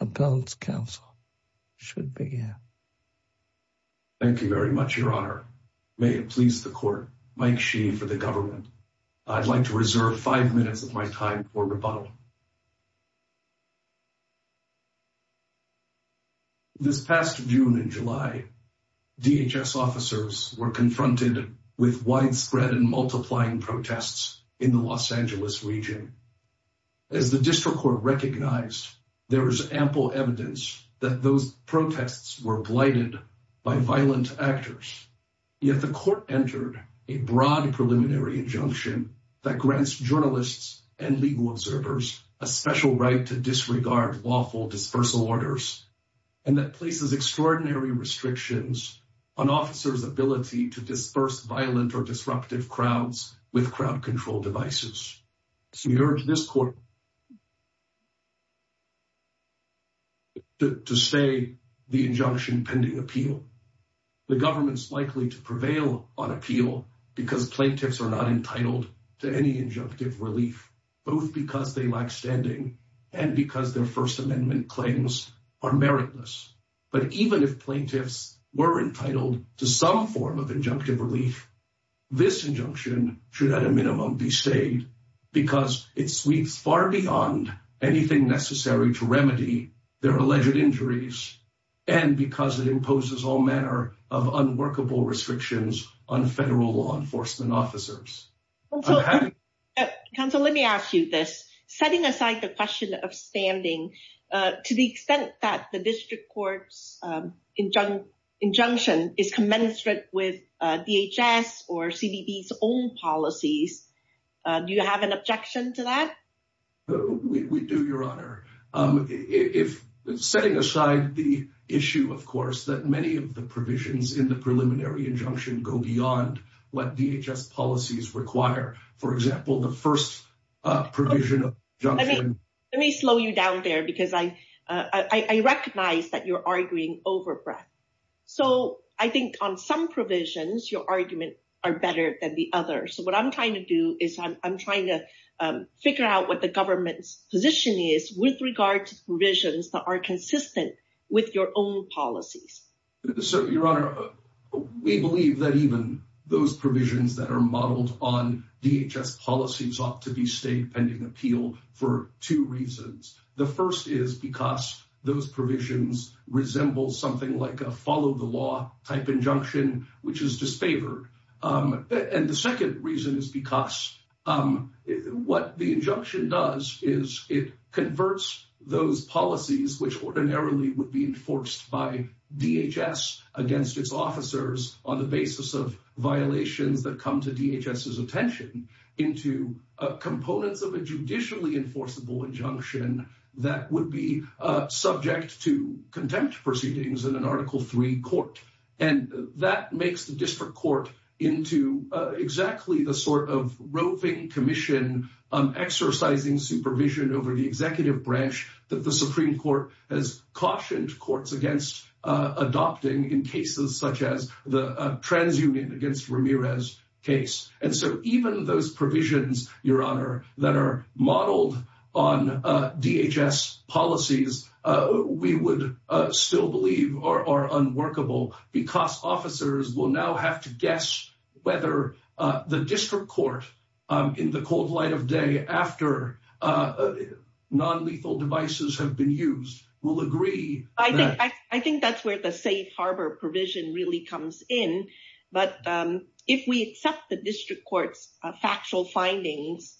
Appellant's counsel should begin. Thank you very much, your honor. May it please the court, Mike Sheehy for the government. I'd like to reserve five minutes of my time for rebuttal. This past June and July, DHS officers were confronted with widespread and multiplying protests in the Los Angeles region. As the district court recognized, there is ample evidence that those protests were blighted by violent actors. Yet the court entered a broad preliminary injunction that grants journalists and legal observers a special right to disregard lawful dispersal orders and that places extraordinary restrictions on officers' ability to disperse violent or disruptive crowds with crowd control devices. So we urge this court to say the injunction pending appeal. The government's likely to prevail on appeal because plaintiffs are not entitled to any injunctive relief, both because they lack standing and because their First Amendment claims are meritless. But even if plaintiffs were entitled to some form of injunctive relief, this injunction should at a minimum be stayed because it sweeps far beyond anything necessary to remedy their alleged injuries, and because it imposes all manner of unworkable restrictions on federal law enforcement officers. Counsel, let me ask you this. Setting aside the question of standing, to the extent that the injunction is commensurate with DHS or CDB's own policies, do you have an objection to that? We do, Your Honor. Setting aside the issue, of course, that many of the provisions in the preliminary injunction go beyond what DHS policies require. For example, the first provision of the injunction— Let me slow you down there, because I recognize that you're arguing over breath. So I think on some provisions, your arguments are better than the others. So what I'm trying to do is I'm trying to figure out what the government's position is with regard to provisions that are consistent with your own policies. So, Your Honor, we believe that even those provisions that are modeled on DHS policies ought to be stayed pending appeal for two reasons. The first is because those provisions resemble something like a follow-the-law type injunction, which is disfavored. And the second reason is because what the injunction does is it converts those policies, which ordinarily would be enforced by DHS against its officers on the basis of violations that come to DHS's attention, into components of a judicially enforceable injunction that would be subject to contempt proceedings in an Article III court. And that makes the district court into exactly the sort of roving commission exercising supervision over the executive branch that the Supreme Court has cautioned courts against adopting in cases such as the transunion against Ramirez case. And so even those provisions, Your Honor, that are modeled on DHS policies, we would still believe are unworkable because officers will now have to guess whether the district court in the cold light of day after nonlethal devices have been used will agree. I think that's where the safe harbor provision really comes in. But if we accept the district court's factual findings,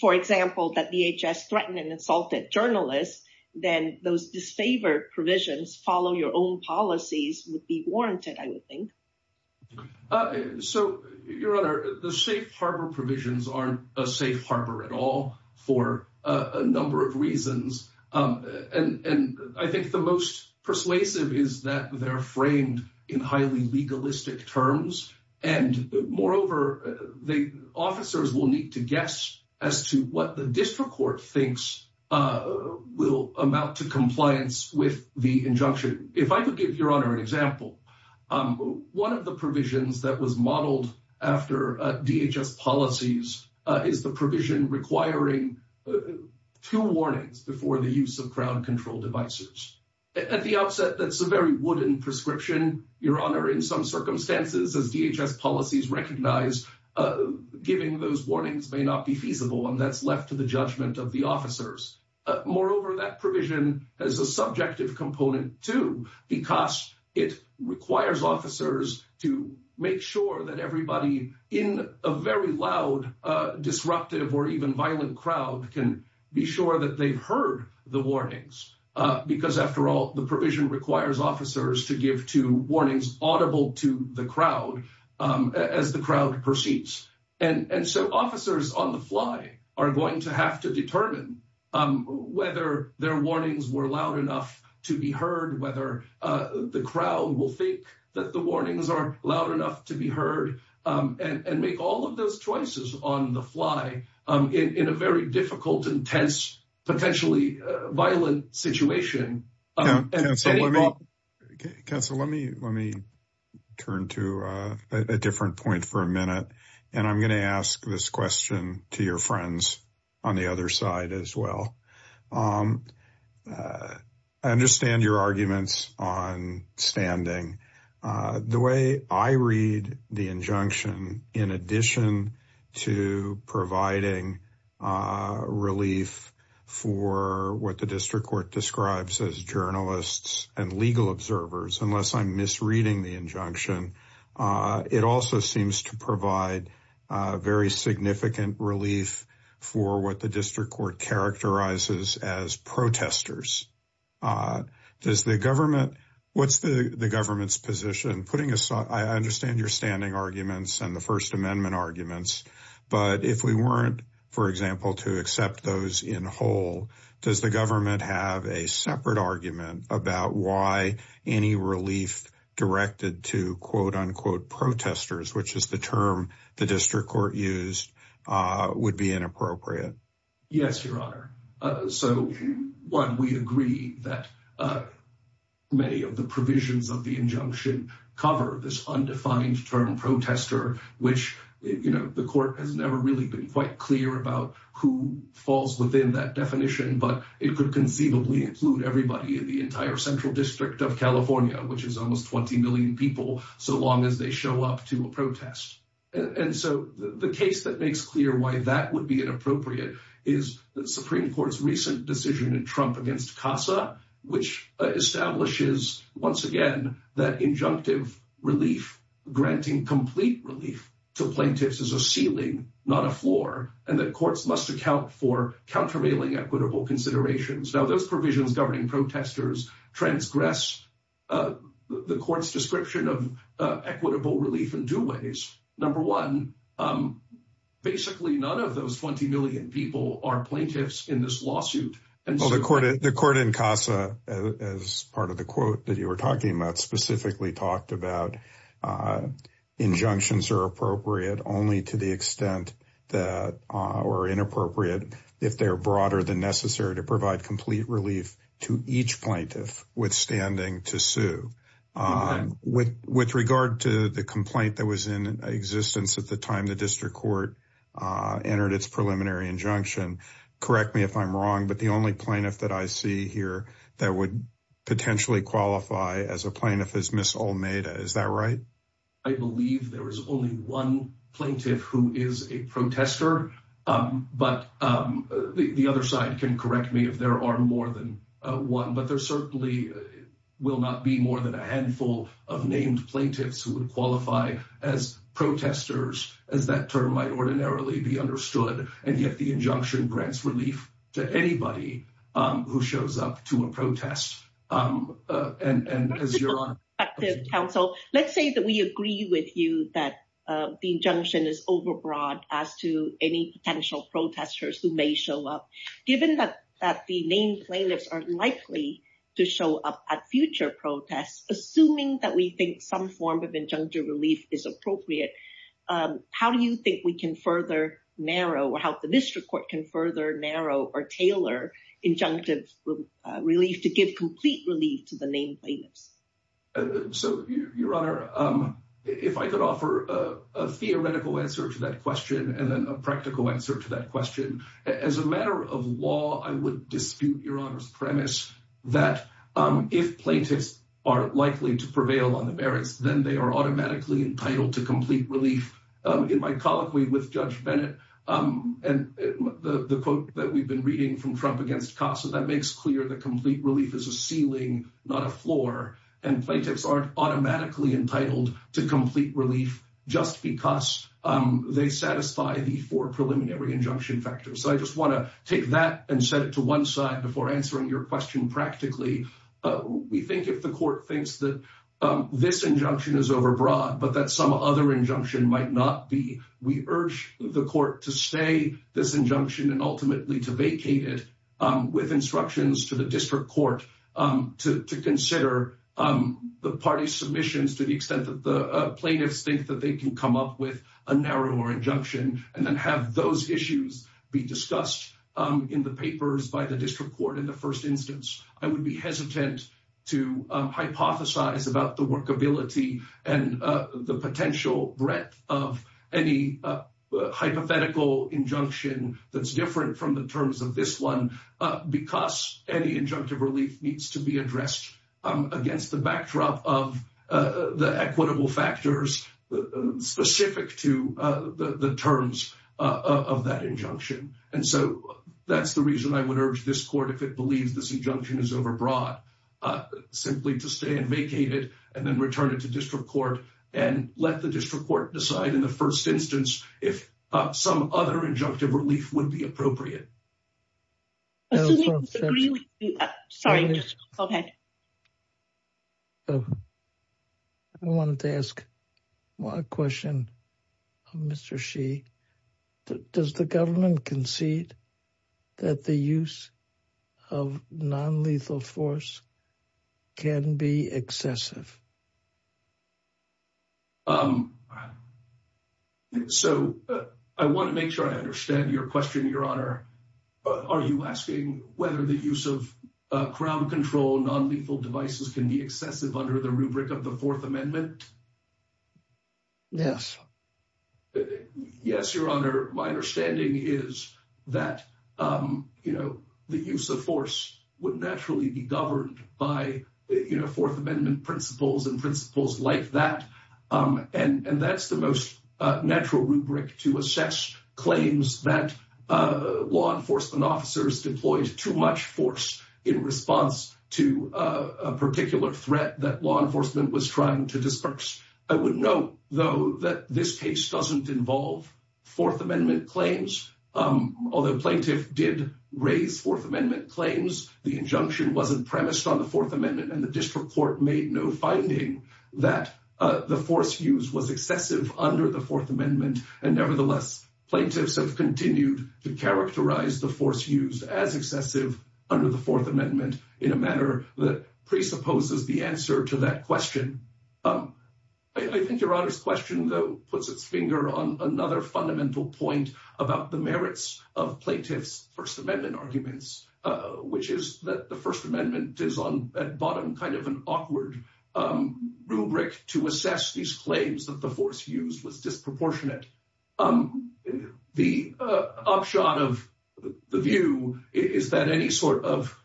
for example, that DHS threatened and insulted journalists, then those disfavored provisions follow your own policies would be warranted, I would think. So, Your Honor, the safe harbor provisions aren't a safe harbor at all for a number of reasons. And I think the most persuasive is that they're framed in highly legalistic terms. And moreover, the officers will need to guess as to what the district court thinks will amount to compliance with the injunction. If I could give Your Honor an example, one of the provisions that was modeled after DHS policies is the provision requiring two warnings before the use of crowd control devices. At the outset, that's a very wooden prescription, Your Honor, in some circumstances, as DHS policies recognize, giving those warnings may not be feasible and that's left to the judgment of the officers. Moreover, that provision has a subjective component too, because it requires officers to make sure that everybody in a very loud, disruptive or even violent crowd can be sure that they've heard the warnings. Because after all, the provision requires officers to give two warnings audible to the crowd as the crowd proceeds. And so officers on the fly are going to have to determine whether their warnings were enough to be heard, whether the crowd will think that the warnings are loud enough to be heard, and make all of those choices on the fly in a very difficult, intense, potentially violent situation. Counselor, let me turn to a different point for a minute. And I'm going to ask this question to your friends on the other side as well. I understand your arguments on standing. The way I read the injunction, in addition to providing relief for what the District Court describes as journalists and legal observers, unless I'm misreading the injunction, it also seems to provide very significant relief for what the does the government, what's the government's position putting aside? I understand your standing arguments and the First Amendment arguments. But if we weren't, for example, to accept those in whole, does the government have a separate argument about why any relief directed to quote, unquote, protesters, which is the term the District Court used, would be inappropriate? Yes, Your Honor. So, one, we agree that many of the provisions of the injunction cover this undefined term protester, which, you know, the court has never really been quite clear about who falls within that definition. But it could conceivably include everybody in the entire Central District of California, which is almost 20 million people, so long as they show up to a protest. And so, the case that makes clear why that would be inappropriate is the Supreme Court's recent decision in Trump against CASA, which establishes, once again, that injunctive relief, granting complete relief to plaintiffs is a ceiling, not a floor, and that courts must account for countervailing equitable considerations. Now, provisions governing protesters transgress the court's description of equitable relief in two ways. Number one, basically, none of those 20 million people are plaintiffs in this lawsuit. The court in CASA, as part of the quote that you were talking about, specifically talked about injunctions are appropriate only to the extent that are inappropriate if they're broader than to provide complete relief to each plaintiff withstanding to sue. With regard to the complaint that was in existence at the time the district court entered its preliminary injunction, correct me if I'm wrong, but the only plaintiff that I see here that would potentially qualify as a plaintiff is Ms. Olmeda. Is that right? I believe there is only one plaintiff who is a protester, but the other side can correct me if there are more than one, but there certainly will not be more than a handful of named plaintiffs who would qualify as protesters, as that term might ordinarily be understood, and yet the injunction grants relief to anybody who shows up to a protest. Let's say that we agree with you that the injunction is overbroad as to any potential protesters who may show up. Given that the named plaintiffs are likely to show up at future protests, assuming that we think some form of injunctive relief is appropriate, how do you think we can further narrow, or how the district court can further narrow or tailor injunctive relief to give complete relief to the named plaintiffs? So, Your Honour, if I could offer a theoretical answer to that question and then a practical answer to that question. As a matter of law, I would dispute Your Honour's premise that if plaintiffs are likely to prevail on the merits, then they are automatically entitled to complete relief. In my colloquy with Judge Bennett, and the quote that we've been reading from Trump against Casa, that makes clear that complete relief is a ceiling, not a floor, and plaintiffs aren't automatically entitled to complete relief just because they satisfy the four preliminary injunction factors. So I just want to take that and set it to one side before answering your question practically. We think if the court thinks that this injunction is overbroad, but that some other injunction might not be, we urge the court to say this injunction and ultimately to vacate it with instructions to the district court to consider the party's submissions to the extent that the plaintiffs think that they can come up with a narrower injunction and then have those issues be discussed in the papers by the district court in the first instance. I would be hesitant to hypothesize about the workability and the potential breadth of any hypothetical injunction that's different from the terms of this one because any injunctive relief needs to be addressed against the backdrop of the equitable factors specific to the terms of that injunction. And so that's the reason I would urge this court, if it believes this injunction is overbroad, simply to stay and vacate it and then return it to district court and let the district court decide in the first instance if some other injunctive relief would be appropriate. I wanted to ask a question of Mr. Sheehy. Does the government concede that the use of non-lethal force can be excessive? I want to make sure I understand your question, Your Honor. Are you asking whether the use of crowd control non-lethal devices can be excessive under the rubric of the Fourth Amendment? Yes. Yes, Your Honor. My understanding is that the use of force would naturally be governed by Fourth Amendment principles and principles like that. And that's the most natural rubric to assess claims that law enforcement officers deployed too much force in response to a particular threat that law enforcement was trying to disperse. I would note, though, that this case doesn't involve Fourth Amendment claims. Although plaintiff did raise Fourth Amendment claims, the injunction wasn't premised on the Fourth Amendment, and the district court made no finding that the force used was excessive under the Fourth Amendment. And nevertheless, plaintiffs have continued to characterize the force used as excessive under the Fourth Amendment in a manner that presupposes the answer to that question. I think Your Honor's question, though, puts its finger on another fundamental point about the merits of plaintiffs' First Amendment, which is that the First Amendment is, at bottom, kind of an awkward rubric to assess these claims that the force used was disproportionate. The upshot of the view is that any sort of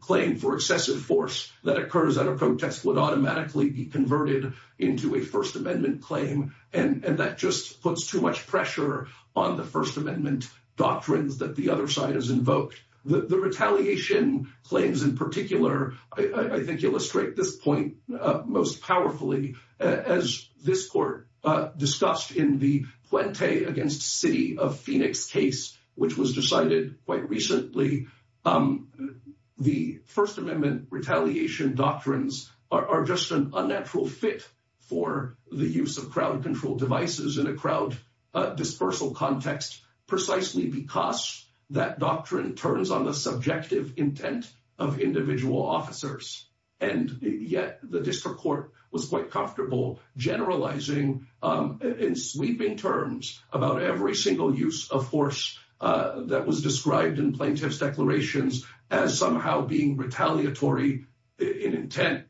claim for excessive force that occurs at a protest would automatically be converted into a First Amendment claim, and that just puts too much pressure on the First Amendment doctrines that the other side has invoked. The retaliation claims in particular, I think, illustrate this point most powerfully. As this Court discussed in the Puente against City of Phoenix case, which was decided quite recently, the First Amendment retaliation doctrines are just an unnatural fit for the use of crowd-control devices in a crowd dispersal context. Precisely because that doctrine turns on the subjective intent of individual officers, and yet the district court was quite comfortable generalizing, in sweeping terms, about every single use of force that was described in plaintiffs' declarations as somehow being retaliatory in intent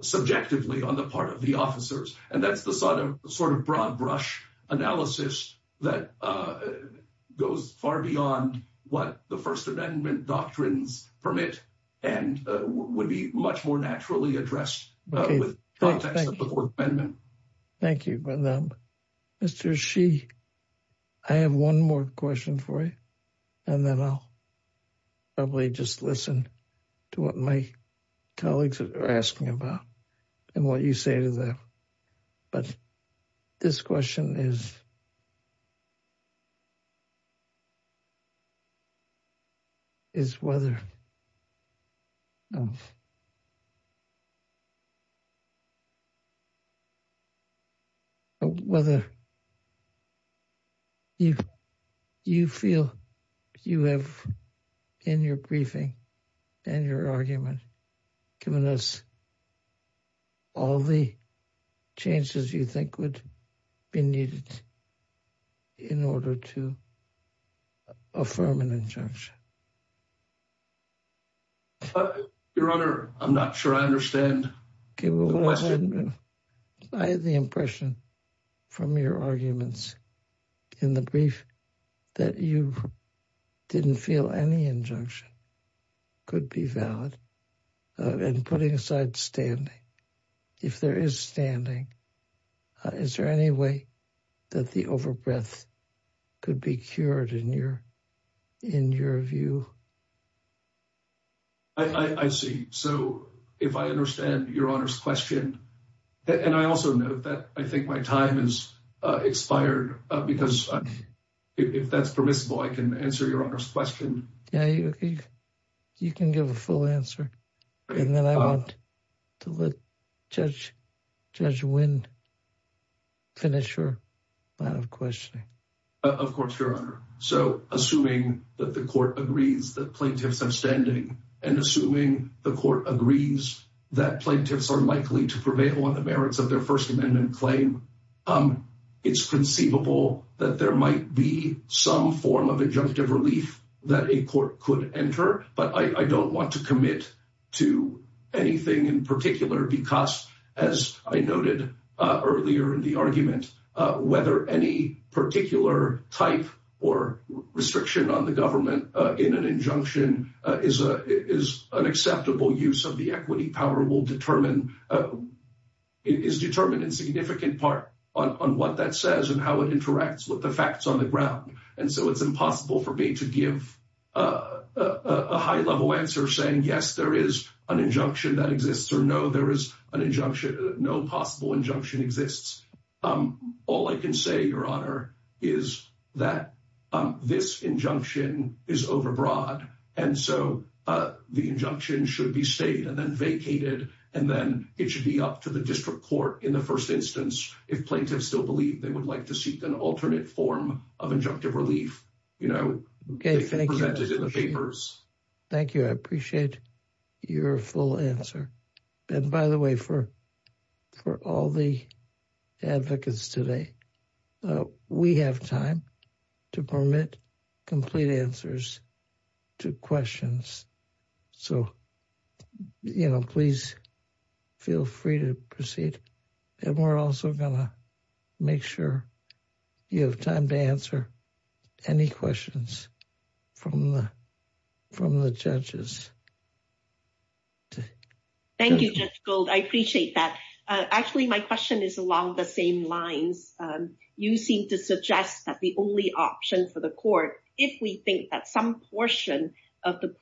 subjectively on the part of the officers. And that's the sort of broad brush analysis that goes far beyond what the First Amendment doctrines permit and would be much more naturally addressed with the context of the Fourth Amendment. Thank you. Mr. Shi, I have one more question for you, and then I'll probably just listen to what my colleagues are about and what you say to them. But this question is whether you feel you have, in your briefing and your argument, given us all the changes you think would be needed in order to affirm an injunction? Your Honor, I'm not sure I understand the question. I had the impression from your arguments in the brief that you didn't feel any injunction. Could be valid. And putting aside standing, if there is standing, is there any way that the overbreath could be cured in your view? I see. So if I understand your Honor's question, and I also note that I think my time has expired because if that's permissible, I can answer your Honor's question. You can give a full answer, and then I want to let Judge Wind finish her line of questioning. Of course, Your Honor. So assuming that the court agrees that plaintiffs have standing, and assuming the court agrees that plaintiffs are likely to prevail on the merits of their First Amendment claim, it's conceivable that there might be some form of injunctive relief that a court could enter, but I don't want to commit to anything in particular because, as I noted earlier in the argument, whether any particular type or restriction on the government in an injunction is an acceptable use of the equity power will determine, is determined in significant part on what that says and how it interacts with the facts on the ground. So I'm not going to give a high-level answer saying yes, there is an injunction that exists, or no, there is an injunction, no possible injunction exists. All I can say, Your Honor, is that this injunction is overbroad, and so the injunction should be stayed and then vacated, and then it should be up to the district court in the first instance if plaintiffs still believe they would like to seek an alternate form of injunctive relief, you know, presented in the papers. Thank you. I appreciate your full answer. And by the way, for all the advocates today, we have time to permit complete answers to questions, so, you know, please feel free to proceed. And we're also going to make sure you have time to answer any questions from the judges. Thank you, Judge Gold. I appreciate that. Actually, my question is along the same lines. You seem to suggest that the only option for the court, if we think that some portion of the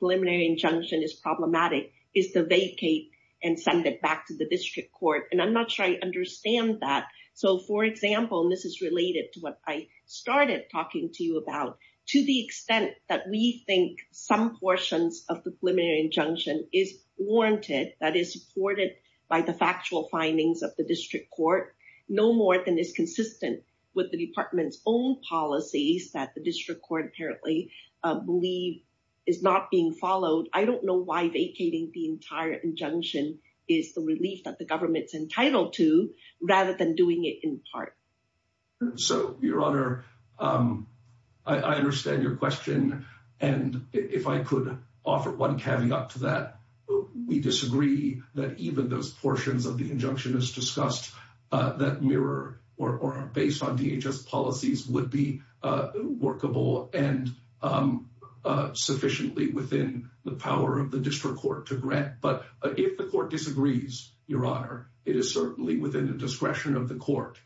I'm not sure I understand that. So, for example, and this is related to what I started talking to you about, to the extent that we think some portions of the preliminary injunction is warranted, that is supported by the factual findings of the district court, no more than is consistent with the department's own policies that the district court apparently believe is not being followed. I don't know why vacating the entire injunction is the relief that the government's rather than doing it in part. So, Your Honor, I understand your question. And if I could offer one caveat to that, we disagree that even those portions of the injunction is discussed that mirror or based on DHS policies would be workable and sufficiently within the power of But if the court disagrees, Your Honor, it is certainly within the discretion of the court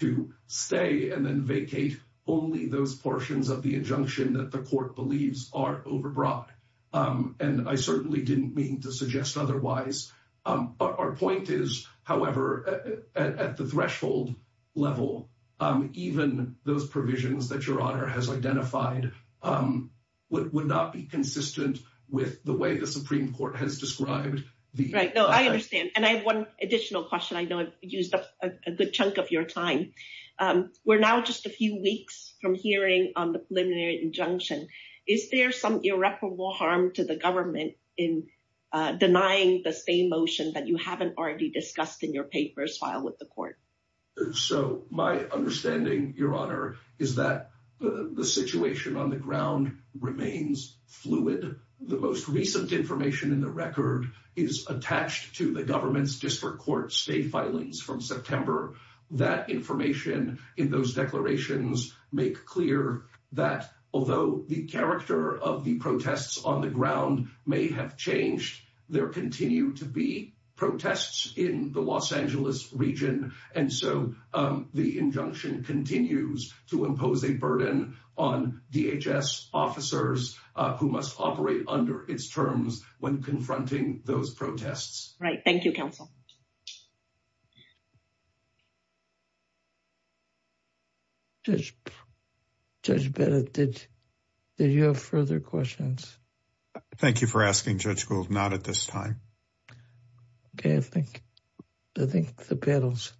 to stay and then vacate only those portions of the injunction that the court believes are overbroad. And I certainly didn't mean to suggest otherwise. Our point is, however, at the threshold level, even those provisions that Your Honor has identified would not be consistent with the way the Supreme Court has described. Right. No, I understand. And I have one additional question. I know I've used up a good chunk of your time. We're now just a few weeks from hearing on the preliminary injunction. Is there some irreparable harm to the government in denying the same motion that you haven't already discussed in your papers filed with the court? So my understanding, Your Honor, is that the situation on the ground remains fluid. The most recent information in the record is attached to the government's district court state filings from September. That information in those declarations make clear that although the character of the protests on the ground may have changed, there continue to be protests in the Los Angeles region. And so the injunction continues to impose a burden on DHS officers who must operate under its terms when confronting those protests. Right. Thank you, counsel. Judge Bennett, did you have further questions? Thank you for asking, Judge Gould. Not at this time. Okay, I think the panel's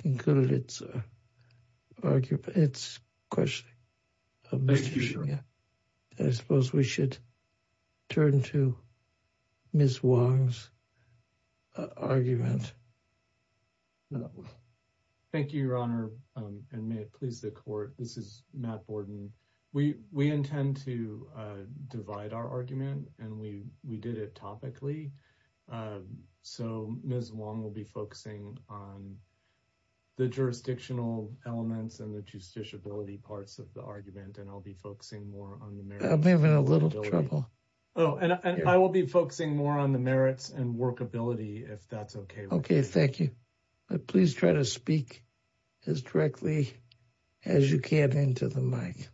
concluded its question. I suppose we should turn to Ms. Wang's argument. Thank you, Your Honor, and may it please the court. This is Matt Borden. We intend to divide our and we did it topically. So Ms. Wang will be focusing on the jurisdictional elements and the justiciability parts of the argument, and I'll be focusing more on the merits. I'm having a little trouble. Oh, and I will be focusing more on the merits and workability if that's okay. Okay, thank you. Please try to speak as directly as you can into the mic.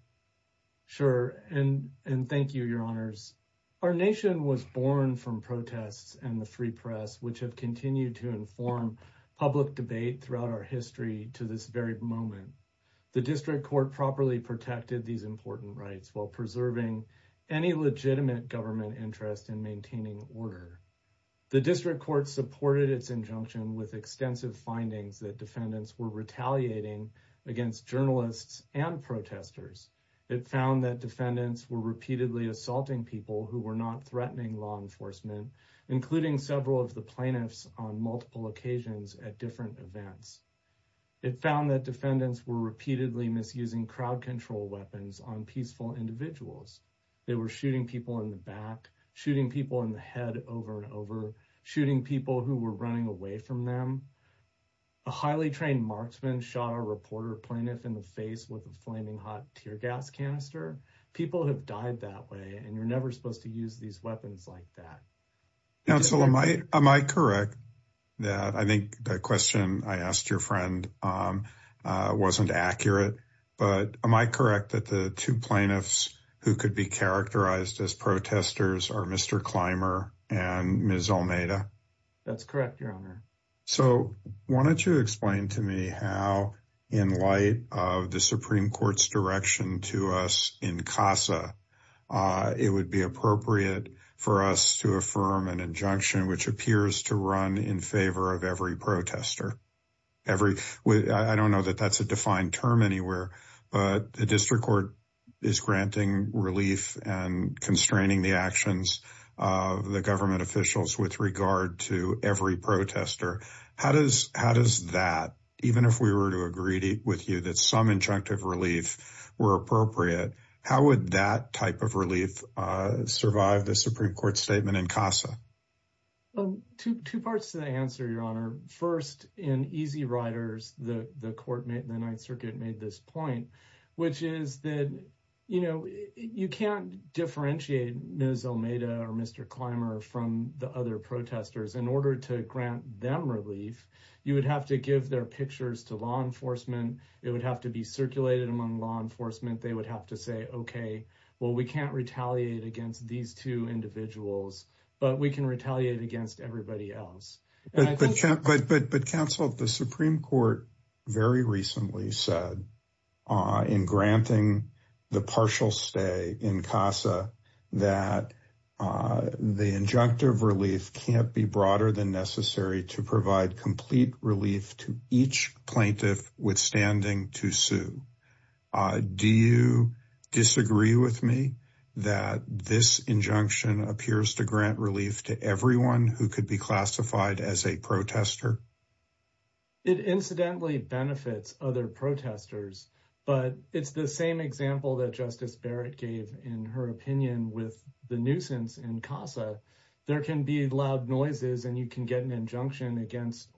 Sure, and thank you, Your Honors. Our nation was born from protests and the free press, which have continued to inform public debate throughout our history to this very moment. The district court properly protected these important rights while preserving any legitimate government interest in maintaining order. The district court supported its injunction with extensive findings that defendants were retaliating against journalists and protesters. It found that defendants were repeatedly assaulting people who were not threatening law enforcement, including several of the plaintiffs on multiple occasions at different events. It found that defendants were repeatedly misusing crowd control weapons on peaceful individuals. They were shooting people in the back, shooting people in the head over and over, shooting people who were running away from them. A highly trained marksman shot a reporter plaintiff in the face with a flaming hot tear gas canister. People have died that way, and you're never supposed to use these weapons like that. Counsel, am I correct that I think the question I asked your friend wasn't accurate, but am I correct that the two plaintiffs who could be characterized as protesters are Mr. Clymer and Ms. Almeida? That's correct, your honor. So why don't you explain to me how, in light of the Supreme Court's direction to us in CASA, it would be appropriate for us to affirm an injunction which appears to run in favor of every protester. I don't know that that's a defined term anywhere, but the district court is granting relief and constraining the actions of the government officials with regard to every protester. How does that, even if we were to agree with you that some injunctive relief were appropriate, how would that type of relief survive the Supreme Court statement in CASA? Two parts to the answer, your honor. First, in Easy Riders, the court, the Ninth Circuit, made this point, which is that, you know, you can't differentiate Ms. Almeida or Mr. Clymer from the other protesters. In order to grant them relief, you would have to give their pictures to law enforcement. It would have to be circulated among law enforcement. They would have to say, okay, well, we can't retaliate against these two individuals, but we can retaliate against everybody else. But counsel, the Supreme Court very recently said in granting the partial stay in CASA that the injunctive relief can't be broader than necessary to provide complete relief to each plaintiff withstanding to sue. Do you disagree with me that this injunction appears to grant relief to everyone who could be classified as a protester? It incidentally benefits other protesters, but it's the same example that Justice Barrett gave in her opinion with the nuisance in CASA. There can be loud noises and you can get an injunction against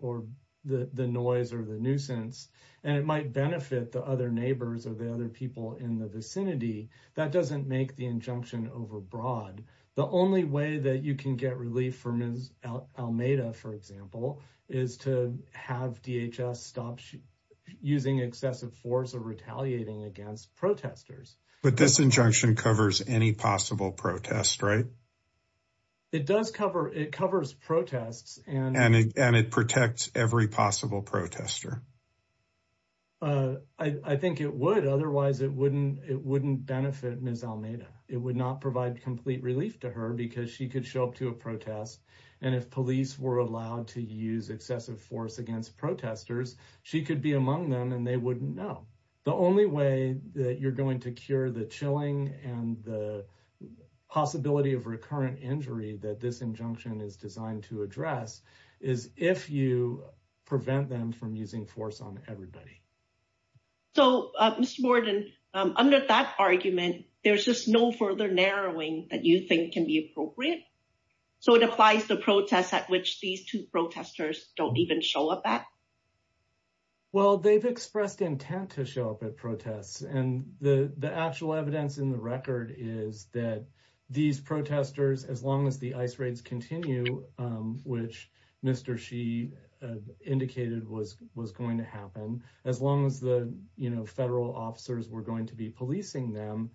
the noise or the nuisance, and it might benefit the neighbors or the other people in the vicinity. That doesn't make the injunction overbroad. The only way that you can get relief for Ms. Almeida, for example, is to have DHS stop using excessive force or retaliating against protesters. But this injunction covers any possible protest, right? It does cover, it covers protests. And it protects every possible protester. I think it would, otherwise it wouldn't benefit Ms. Almeida. It would not provide complete relief to her because she could show up to a protest. And if police were allowed to use excessive force against protesters, she could be among them and they wouldn't know. The only way that you're going to cure the chilling and the possibility of recurrent injury that this injunction is designed to address is if you prevent them from using force on everybody. So, Mr. Borden, under that argument, there's just no further narrowing that you think can be appropriate. So it applies to protests at which these two protesters don't even show up at? Well, they've expressed intent to show up at protests. And the actual evidence in the record is that these protesters, as long as the ICE raids continue, which Mr. Xi indicated was going to happen, as long as the federal officers were going to be policing them,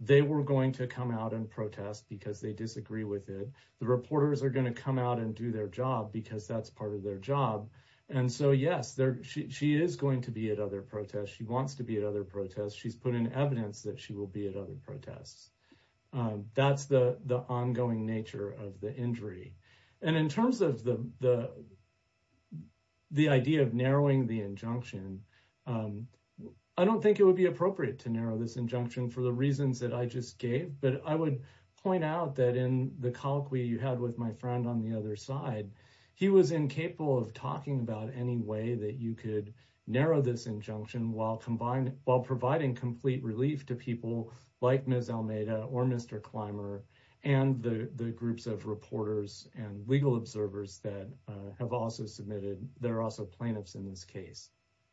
they were going to come out and protest because they disagree with it. The reporters are going to come out and do their job because that's part of their job. And so, yes, she is going to be at other protests. She wants to be at other protests. She's put in evidence that she will be at other protests. That's the ongoing nature of the injury. And in terms of the idea of narrowing the injunction, I don't think it would be appropriate to narrow this injunction for the reasons that I just gave. But I would point out that in the colloquy you had with my friend on the other side, he was incapable of talking about any way that you could narrow this injunction while providing complete relief to people like Ms. Almeida or Mr. Clymer and the groups of reporters and legal observers that have also submitted, that are also plaintiffs in this case.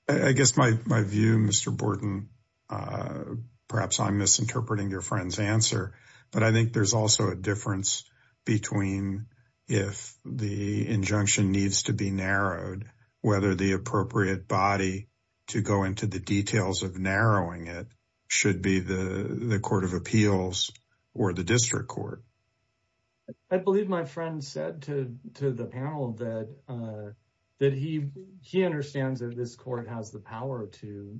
I guess my view, Mr. Borton, perhaps I'm misinterpreting your friend's answer, but I think there's also a difference between if the injunction needs to be narrowed, whether the appropriate body to go into the details of narrowing it should be the Court of Appeals or the District Court. I believe my friend said to the panel that he understands that this court has the power to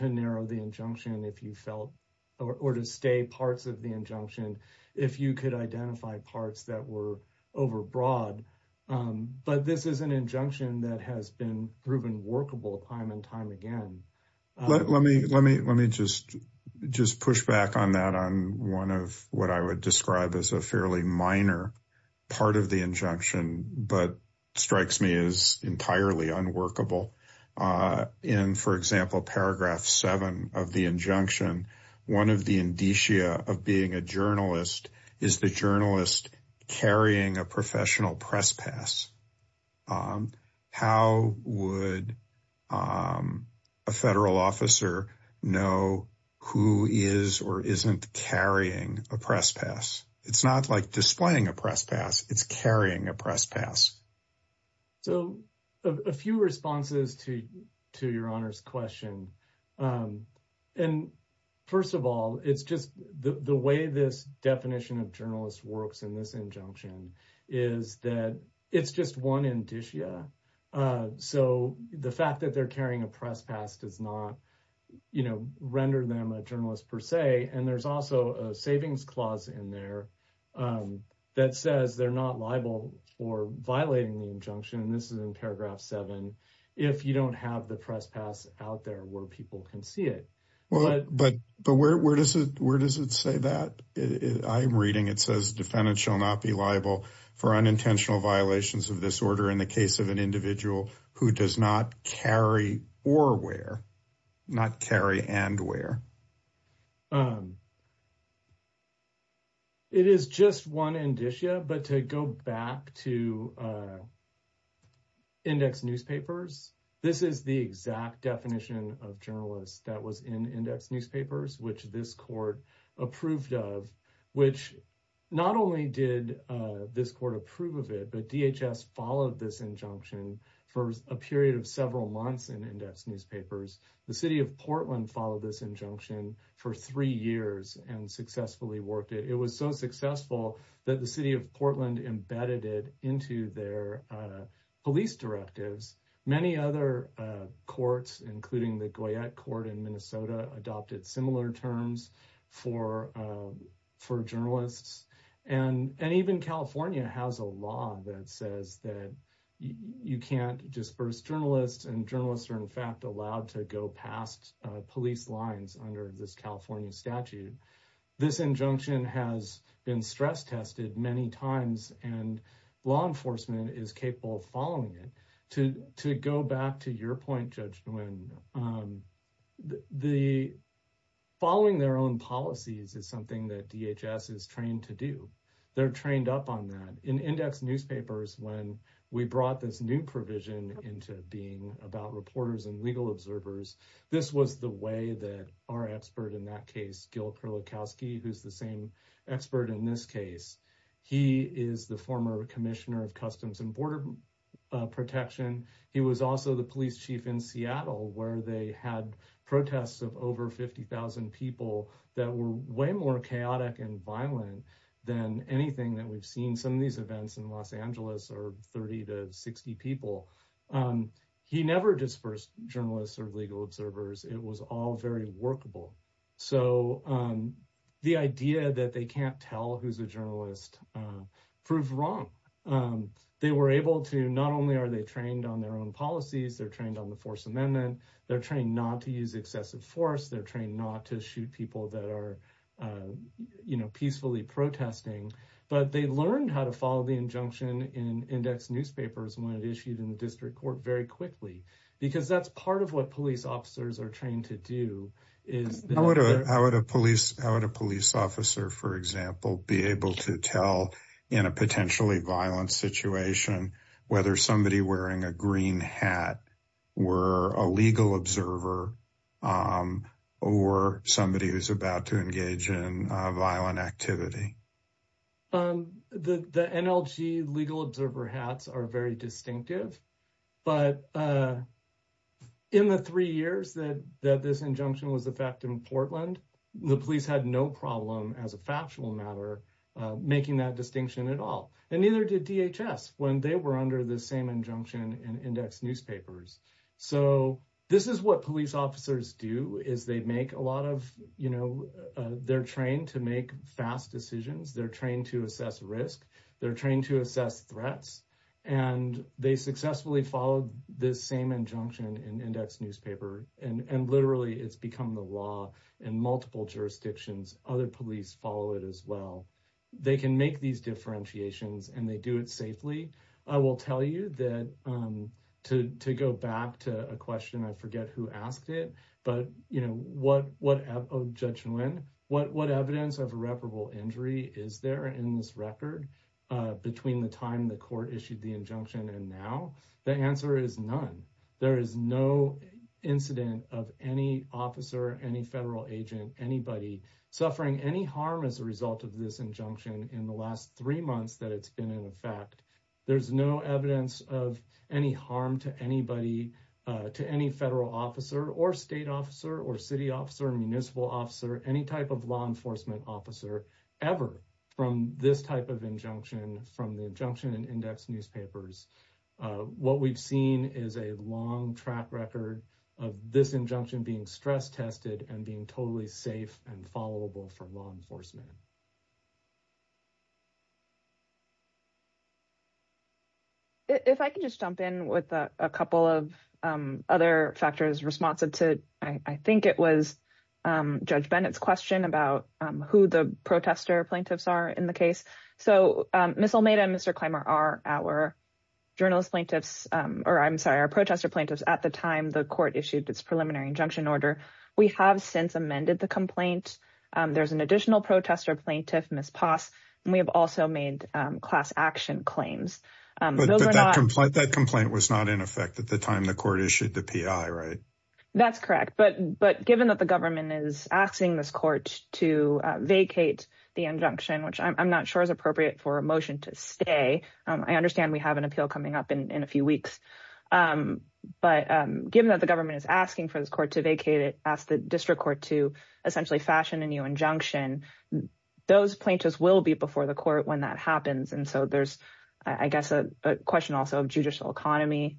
narrow the injunction if you felt, or to stay parts of the injunction if you could identify parts that were over broad. But this is an injunction that has been proven workable time and time again. Let me just push back on that on one of what I would describe as a fairly minor part of the injunction, but strikes me as entirely unworkable. In, for example, paragraph seven of the injunction, one of the indicia of being a journalist is the journalist carrying a professional press pass. How would a federal officer know who is or isn't carrying a press pass? It's not like displaying a press pass, it's carrying a press pass. A few responses to your Honor's question. First of all, it's just the way this definition of journalist works in this injunction is that it's just one indicia. So the fact that they're carrying a press pass does not render them a journalist per se. And there's also a savings clause in there that says they're not liable for violating the injunction. This is in paragraph seven. If you don't have the press pass out there where people can see it. Well, but where does it say that? I'm reading it says defendant shall not be liable for unintentional violations of this order in the case of an individual who does not carry or wear, not carry and wear. It is just one indicia, but to go back to index newspapers, this is the exact definition of journalist that was in index newspapers, which this court approved of, which not only did this court approve of it, but DHS followed this injunction for a period of several months in index newspapers. The city of Portland followed this injunction for three years and successfully worked it. It was so successful that the city of Portland embedded it into their police directives. Many other courts, including the Goyette court in Minnesota, adopted similar terms for journalists. And even California has a law that says that you can't disperse journalists and journalists are in fact allowed to go past police lines under this California statute. This injunction has been stress tested many times and law enforcement is capable of following it. To go back to your point, Judge Nguyen, following their own policies is something that DHS is trained to do. They're trained up on that. In index newspapers, when we brought this new provision into being about reporters and legal observers, this was the way that our expert in that case, Gil Perlikowski, who's the same expert in this case, he is the former commissioner of Customs and Border Protection. He was also the police chief in Seattle where they had protests of over 50,000 people that were way more chaotic and violent than anything that we've seen. Some of these events in Los Angeles are 30 to 60 people. He never dispersed journalists or legal observers. It was all very workable. So the idea that they can't tell who's a journalist proved wrong. They were able to, not only are they trained on their own policies, they're trained on the force amendment, they're trained not to use excessive force, they're trained not to shoot people that are peacefully protesting, but they learned how to follow the injunction in index newspapers when it issued in the district court very quickly. Because that's part of what police officers are trained to do. How would a police officer, for example, be able to tell in a potentially violent situation whether somebody wearing a green hat were a legal observer or somebody who's about to engage in violent activity? The NLG legal observer hats are very distinctive, but in the three years that this injunction was effected in Portland, the police had no problem as a factual matter making that distinction at all. And neither did DHS when they were under the same injunction in index newspapers. So this is what police officers do is they make a lot of, they're trained to make fast decisions, they're trained to assess risk, they're trained to assess threats, and they successfully followed this same injunction in index newspaper. And literally, it's become the law in multiple jurisdictions. Other police follow it as well. They can make these differentiations and they do it safely. I will tell you that to go back to a question, I forget who asked it, but what evidence of irreparable injury is there in this record between the time the court issued the injunction and now? The answer is none. There is no incident of any officer, any federal agent, anybody suffering any harm as a result of this injunction in the last three months that it's been in effect. There's no evidence of any harm to anybody, to any federal officer or state officer or city officer, municipal officer, any type of law enforcement officer ever from this type of injunction from the injunction in index newspapers. What we've seen is a long track record of this injunction being stress tested and being totally safe and followable for law enforcement. If I could just jump in with a couple of other factors responsive to, I think it was Judge Bennett's question about who the protester plaintiffs are in the case. So Ms. Almeida and Mr. Clymer are our protester plaintiffs at the time the court issued its preliminary injunction order. We have since amended the complaint. There's an additional protester plaintiff, Ms. Poss, and we have also made class action claims. That complaint was not in effect at the time the court issued the PI, right? That's correct, but given that the government is asking this court to vacate the injunction, which I'm not sure is appropriate for a motion to stay, I understand we have an appeal coming up in a few weeks, but given that the government is asking for this court to vacate it, ask the district court to essentially fashion a new injunction, those plaintiffs will be before the court when that happens. And so there's, I guess, a question also of judicial economy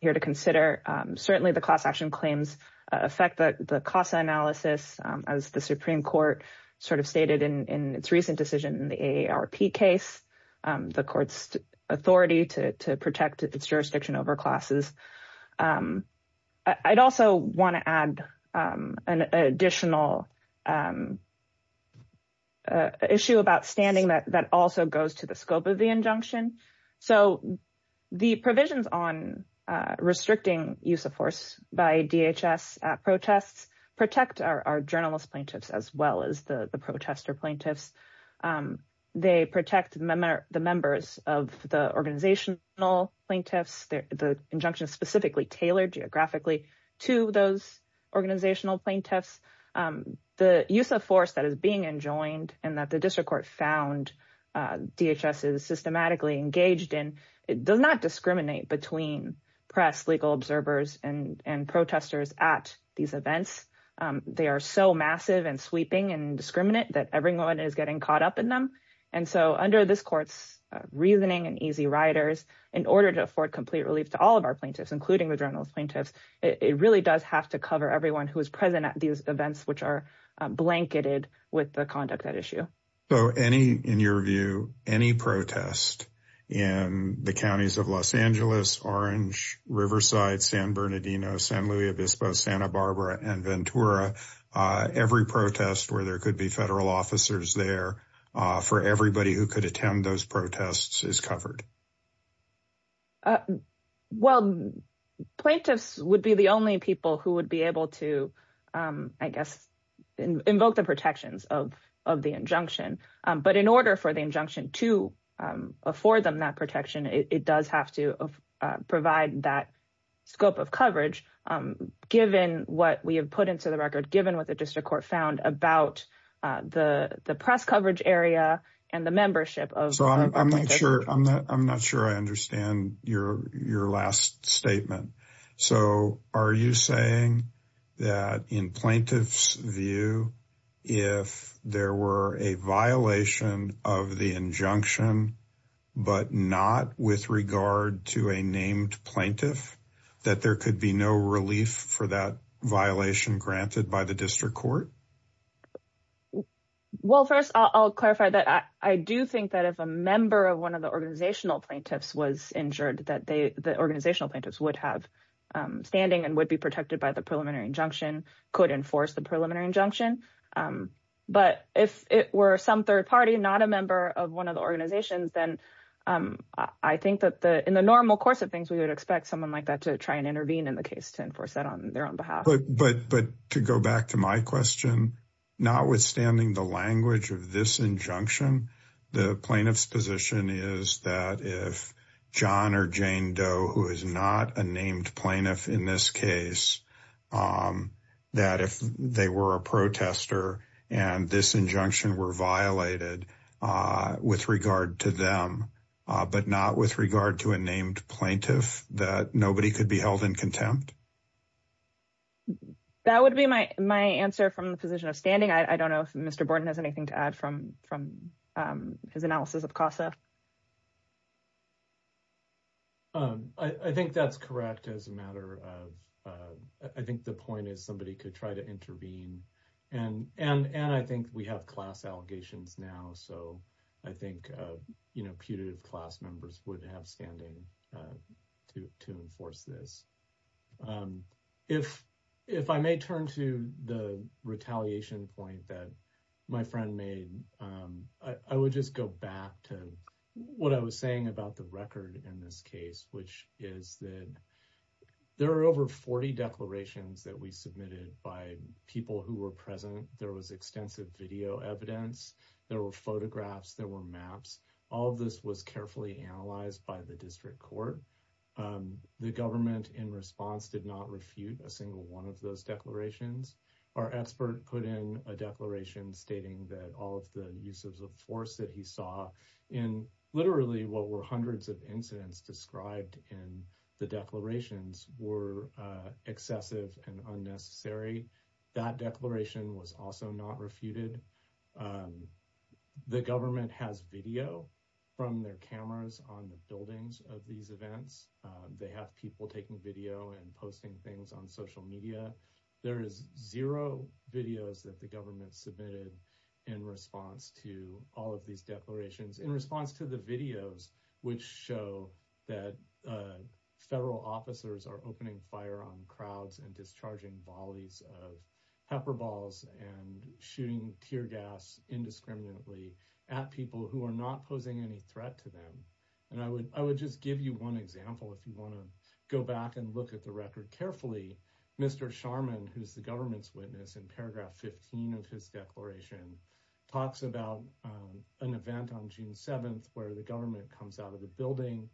here to consider. Certainly the class action claims affect the CASA analysis as the Supreme Court sort of stated in its recent decision in the AARP case, the court's authority to protect its jurisdiction over classes. I'd also want to add an additional issue about standing that also goes to the scope of the injunction. So the provisions on restricting use of force by DHS at protests protect our journalist plaintiffs as well as the protester plaintiffs. They protect the members of the organizational plaintiffs. The injunction is specifically tailored geographically to those organizational plaintiffs. The use of force that is being enjoined and that the district court found DHS is systematically engaged in, it does not discriminate between press, legal observers, and protesters at these events. They are so massive and sweeping and discriminant that everyone is getting caught up in them. And so under this court's reasoning and easy riders, in order to afford complete relief to all of our plaintiffs, including the journalist plaintiffs, it really does have to cover everyone who is present at these events which are blanketed with the conduct at issue. So any, in your view, any protest in the counties of Los Angeles, Orange, Riverside, San Bernardino, San Luis Obispo, Santa Barbara, and Ventura, every protest where there could be federal officers there for everybody who could attend those protests is covered? Well, plaintiffs would be the only people who would be able to, I guess, invoke the protections of the injunction. But in order for the injunction to afford them that protection, it does have to provide that scope of coverage, given what we have put into the record, given what the district court found about the press coverage area and the membership. So I'm not sure I understand your last statement. So are you saying that in plaintiff's view, if there were a violation of the injunction, but not with regard to a named plaintiff, that there could be no relief for that violation granted by the district court? Well, first, I'll clarify that. I do think that if a member of one of the organizational plaintiffs was injured, that the organizational plaintiffs would have standing and would be protected by the preliminary injunction, could enforce the preliminary injunction. But if it were some third party, not a member of one of the organizations, then I think that in the normal course of things, we would expect someone like that to try and intervene in the case to enforce that on their own behalf. But to go back to my question, notwithstanding the language of this injunction, the plaintiff's position is that if John or Jane Doe, who is not a named plaintiff in this case, that if they were a protester and this injunction were violated with regard to them, but not with regard to a named plaintiff, that nobody could be held in contempt? That would be my answer from the position of standing. I don't know if Mr. Borton has anything to add from his analysis of CASA. I think that's correct as a matter of, I think the point is somebody could try to intervene. And I think we have class allegations now. So I think putative class members would have standing to enforce this. If I may turn to the retaliation point that my friend made, I would just go back to what I was saying about the record in this case, which is that there are over 40 declarations that we submitted by people who were present. There was extensive video evidence, there were photographs, there were maps. All of this was carefully analyzed by the district court. The government in response did not refute a single one of those declarations. Our expert put in a declaration stating that all of the uses of force that he saw in literally what were hundreds of incidents described in the declarations were excessive and unnecessary. That declaration was also not refuted. The government has video from their cameras on the buildings of these events. They have people taking video and posting things on media. There is zero videos that the government submitted in response to all of these declarations in response to the videos, which show that federal officers are opening fire on crowds and discharging volleys of pepper balls and shooting tear gas indiscriminately at people who are not posing any threat to them. And I would just give you one example if you want to go back and look at the record carefully. Mr. Sharman, who's the government's witness in paragraph 15 of his declaration, talks about an event on June 7th where the government comes out of the building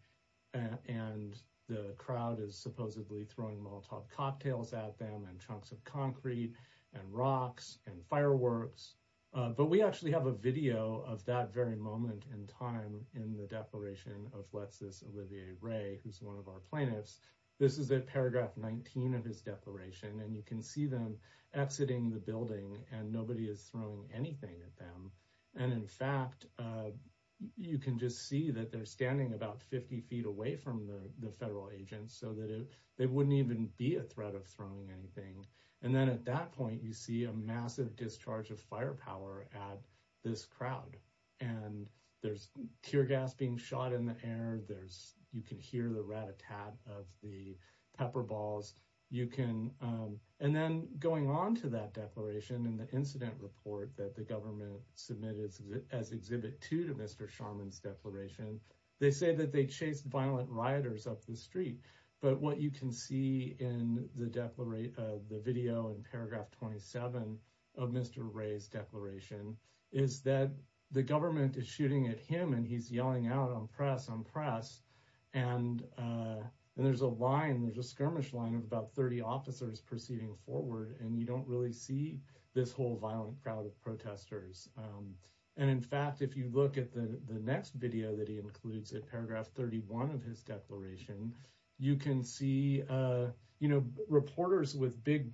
and the crowd is supposedly throwing Molotov cocktails at them and chunks of concrete and rocks and fireworks. But we actually have a video of that very moment in time in the declaration of Alexis Olivier Ray, who's one of our plaintiffs. This is at paragraph 19 of his declaration and you can see them exiting the building and nobody is throwing anything at them. And in fact, you can just see that they're standing about 50 feet away from the federal agents so that it wouldn't even be a threat of throwing anything. And then at that point you see a massive discharge of firepower at this crowd and there's tear gas being shot in the air. You can hear the rat-a-tat of the pepper balls. And then going on to that declaration in the incident report that the government submitted as exhibit two to Mr. Sharman's declaration, they say that they chased violent rioters up the street. But what you can see in the video in paragraph 27 of Mr. Ray's declaration is that the government is shooting at him and he's yelling out, un-press, un-press. And there's a line, there's a skirmish line of about 30 officers proceeding forward and you don't really see this whole violent crowd of protesters. And in fact, if you look at the next video that he includes at paragraph 31 of his declaration, you can see reporters with big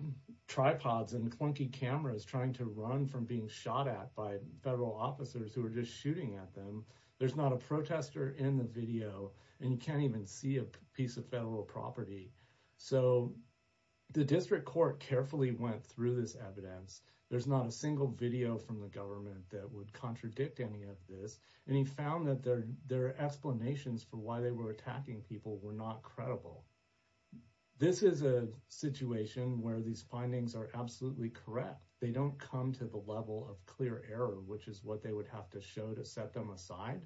tripods and clunky cameras trying to run from being shot at by federal officers who are just shooting at them. There's not a protester in the video and you can't even see a piece of federal property. So the district court carefully went through this evidence. There's not a single video from the government that would contradict any of this. And he found that their explanations for why they were attacking people were not credible. This is a situation where these findings are absolutely correct. They don't come to the level of clear error, which is what they would have to show to set them aside.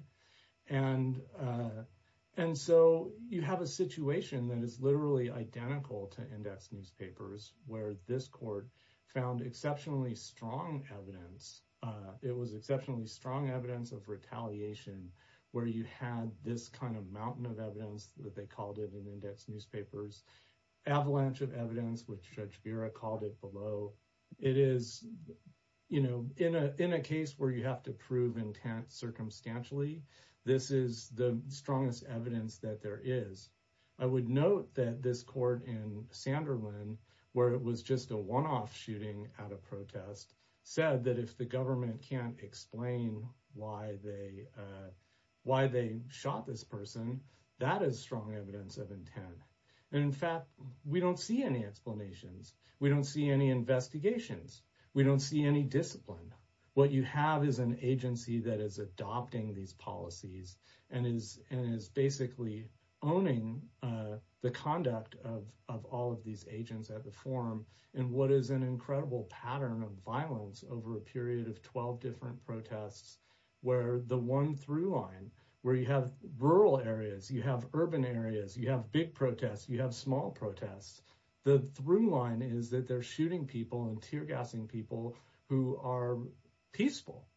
And so you have a situation that is literally identical to index newspapers where this court found exceptionally strong evidence. It was exceptionally strong evidence of retaliation where you had this kind of mountain of evidence that they called it in index newspapers, avalanche of evidence, which Judge Vera called it below. It is, you know, in a case where you have to prove intent circumstantially, this is the strongest evidence that there is. I would note that this court in Sanderlin, where it was just a one-off shooting at a protest, said that if the government can't explain why they shot this person, that is strong evidence of intent. And in fact, we don't see any explanations. We don't see any investigations. We don't see any discipline. What you have is an agency that is adopting these policies and is basically owning the conduct of all of these agents at the forum and what is an incredible pattern of violence over a period of 12 different protests, where the one through line where you have rural areas, you have urban areas, you have big protests, you have small protests, the through line is that they're shooting people and tear gassing people who are peaceful,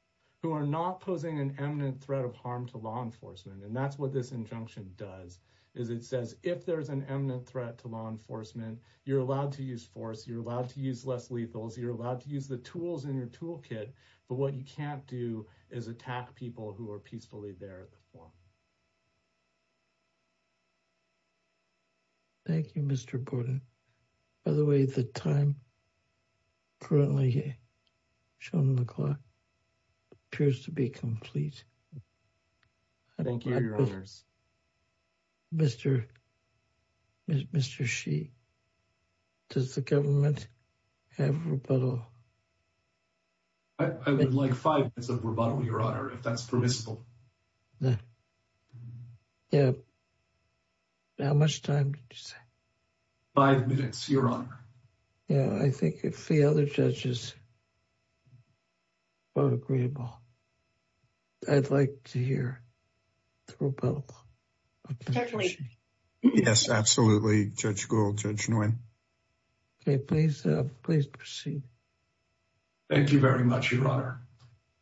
who are not posing an imminent threat of harm to law enforcement. And that's what this injunction does, is it says if there's an imminent threat to law enforcement, you're allowed to use force, you're allowed to use less lethals, you're allowed to use the tools in your toolkit, but what you can't do is attack people who are peacefully there at the forum. Thank you, Mr. Borden. By the way, the time currently shown on the clock appears to be complete. Thank you, your honors. Mr. Shee, does the government have rebuttal? I would like five minutes of rebuttal, your honor, if that's permissible. Yeah, how much time did you say? Five minutes, your honor. Yeah, I think if the other judges vote agreeable, I'd like to hear the rebuttal. Yes, absolutely, Judge Gould, Judge Nguyen. Okay, please proceed. Thank you very much, your honor.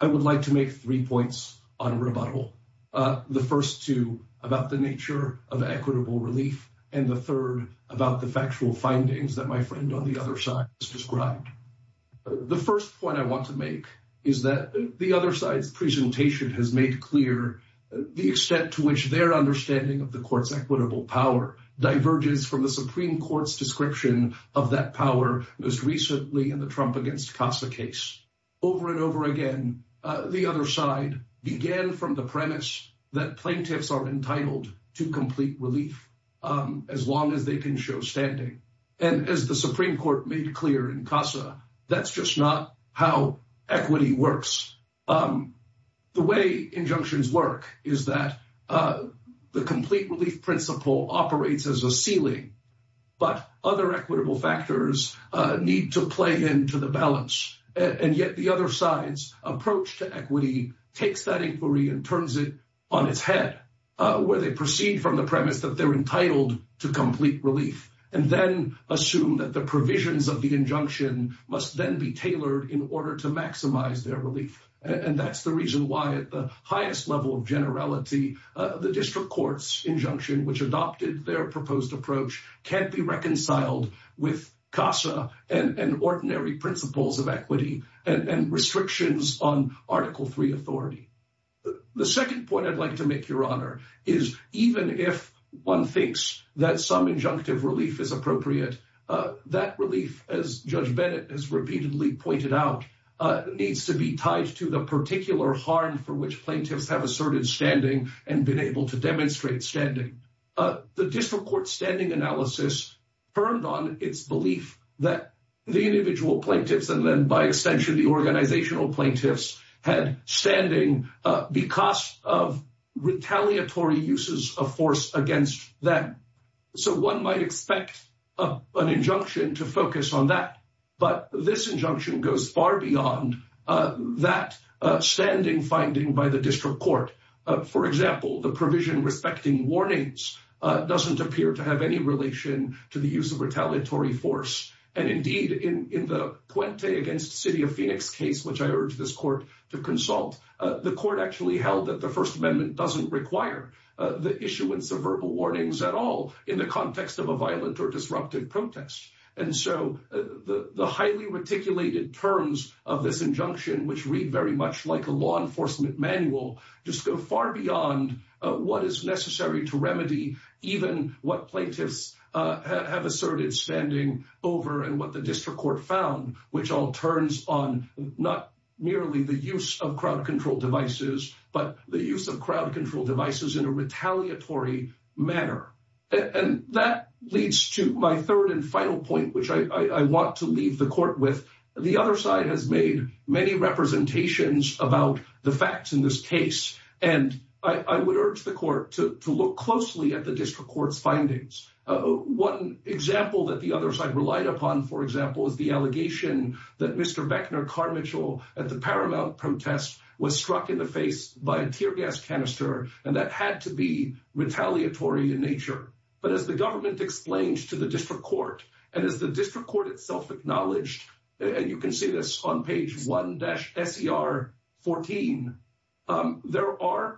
I would like to make three points on rebuttal. The first two about the nature of equitable relief, and the third about the factual is that the other side's presentation has made clear the extent to which their understanding of the court's equitable power diverges from the Supreme Court's description of that power most recently in the Trump against Casa case. Over and over again, the other side began from the premise that plaintiffs are entitled to complete relief as long as they can show standing. And as the Supreme Court made clear in Casa, that's just not how equity works. The way injunctions work is that the complete relief principle operates as a ceiling, but other equitable factors need to play into the balance. And yet the other side's approach to equity takes that inquiry and turns it on its head, where they proceed from the premise that they're entitled to complete relief, and then assume that the provisions of the injunction must then be tailored in order to maximize their relief. And that's the reason why at the highest level of generality, the district court's injunction, which adopted their proposed approach, can't be reconciled with Casa and ordinary principles of equity and restrictions on Article III authority. The second point I'd like to make, Your Honor, is even if one thinks that some injunctive relief is appropriate, that relief, as Judge Bennett has repeatedly pointed out, needs to be tied to the particular harm for which plaintiffs have asserted standing and been able to demonstrate standing. The district court's standing analysis turned on its belief that the individual plaintiffs, and then by extension the organizational plaintiffs, had standing because of retaliatory uses of force against them. So one might expect an injunction to focus on that, but this injunction goes far beyond that standing finding by the district court. For example, the provision respecting warnings doesn't appear to have any relation to the use of retaliatory force. And indeed, in the Puente v. City of Phoenix case, which I urge this court to consult, the court actually held that the First Amendment doesn't require the issuance of verbal warnings at all in the context of a violent or disruptive protest. And so the highly reticulated terms of this injunction, which read very much like a law enforcement manual, just go far beyond what is to remedy even what plaintiffs have asserted standing over and what the district court found, which all turns on not merely the use of crowd control devices, but the use of crowd control devices in a retaliatory manner. And that leads to my third and final point, which I want to leave the court with. The other side has made many representations about the facts in this case, and I would urge the court to look closely at the district court's findings. One example that the other side relied upon, for example, is the allegation that Mr. Beckner Carmichael at the Paramount protest was struck in the face by a tear gas canister, and that had to be retaliatory in nature. But as the government explained to the district court, and as the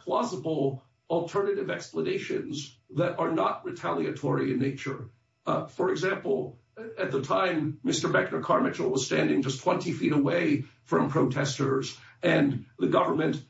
plausible alternative explanations that are not retaliatory in nature. For example, at the time, Mr. Beckner Carmichael was standing just 20 feet away from protesters, and the government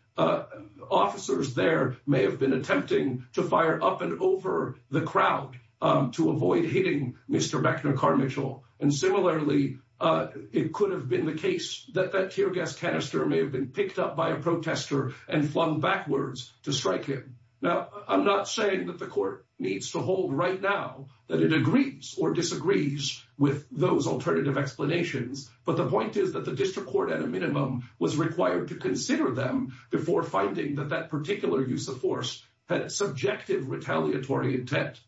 officers there may have been attempting to fire up and over the crowd to avoid hitting Mr. Beckner Carmichael. And similarly, it could have been the case that that tear gas canister may have been picked up by a protester and flung backwards to strike him. Now, I'm not saying that the court needs to hold right now that it agrees or disagrees with those alternative explanations, but the point is that the district court at a minimum was required to consider them before finding that that particular use of force had subjective retaliatory intent.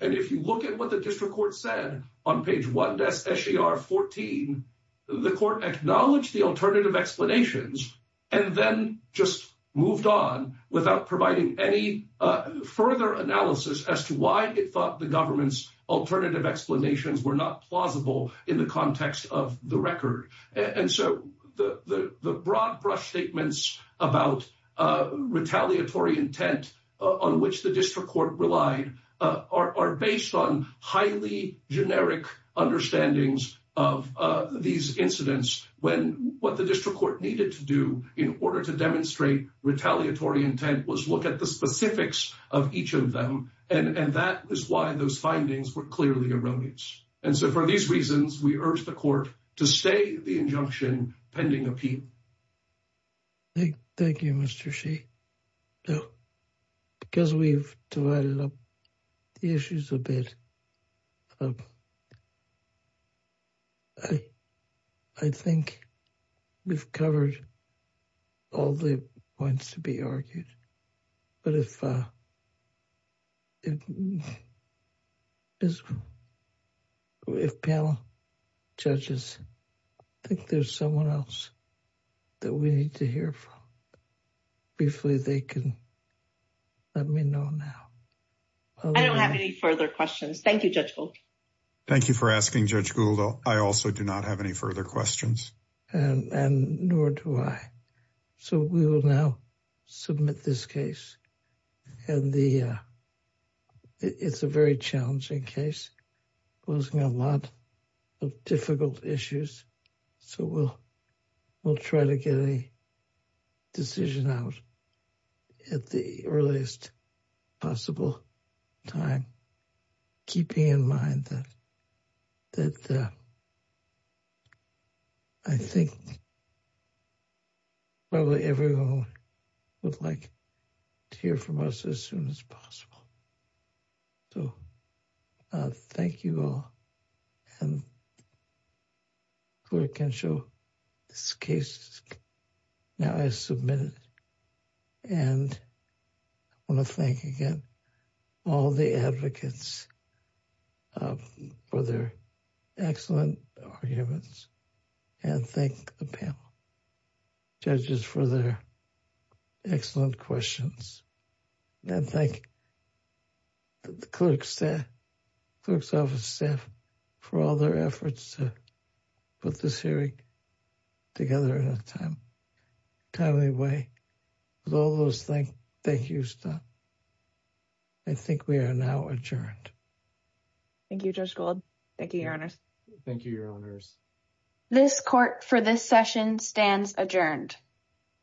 And if you look at what the district court said on page 1 of SCR 14, the court acknowledged the alternative explanations and then just moved on without providing any further analysis as to why it thought the government's alternative explanations were not plausible in the context of the record. And so the broad-brush statements about retaliatory intent on which the district court relied are based on highly generic understandings of these incidents when what the district court needed to do in order to demonstrate retaliatory intent was look at the specifics of each of them, and that is why those findings were clearly erroneous. And so for these reasons, we urge the court to stay the injunction pending appeal. Thank you, Mr. Sheehy. Now, because we've divided up the issues a bit, I think we've covered all the points to be argued. But if panel judges think there's someone else that we need to hear from, briefly, they can let me know now. I don't have any further questions. Thank you, Judge Gould. Thank you for asking, Judge Gould. I also do not have any further questions. And nor do I. So we will now submit this case. And it's a very challenging case, posing a lot of difficult issues. So we'll try to get a decision out at the earliest possible time, keeping in mind that I think probably everyone would like to hear from us as soon as possible. So thank you all. And the clerk can show this case. Now I submit it. And I want to thank again all the advocates for their excellent arguments. And thank the panel judges for their clerks staff, clerk's office staff for all their efforts to put this hearing together in a timely way. With all those things, thank you. I think we are now adjourned. Thank you, Judge Gould. Thank you, Your Honors. Thank you, Your Honors. This court for this session stands adjourned.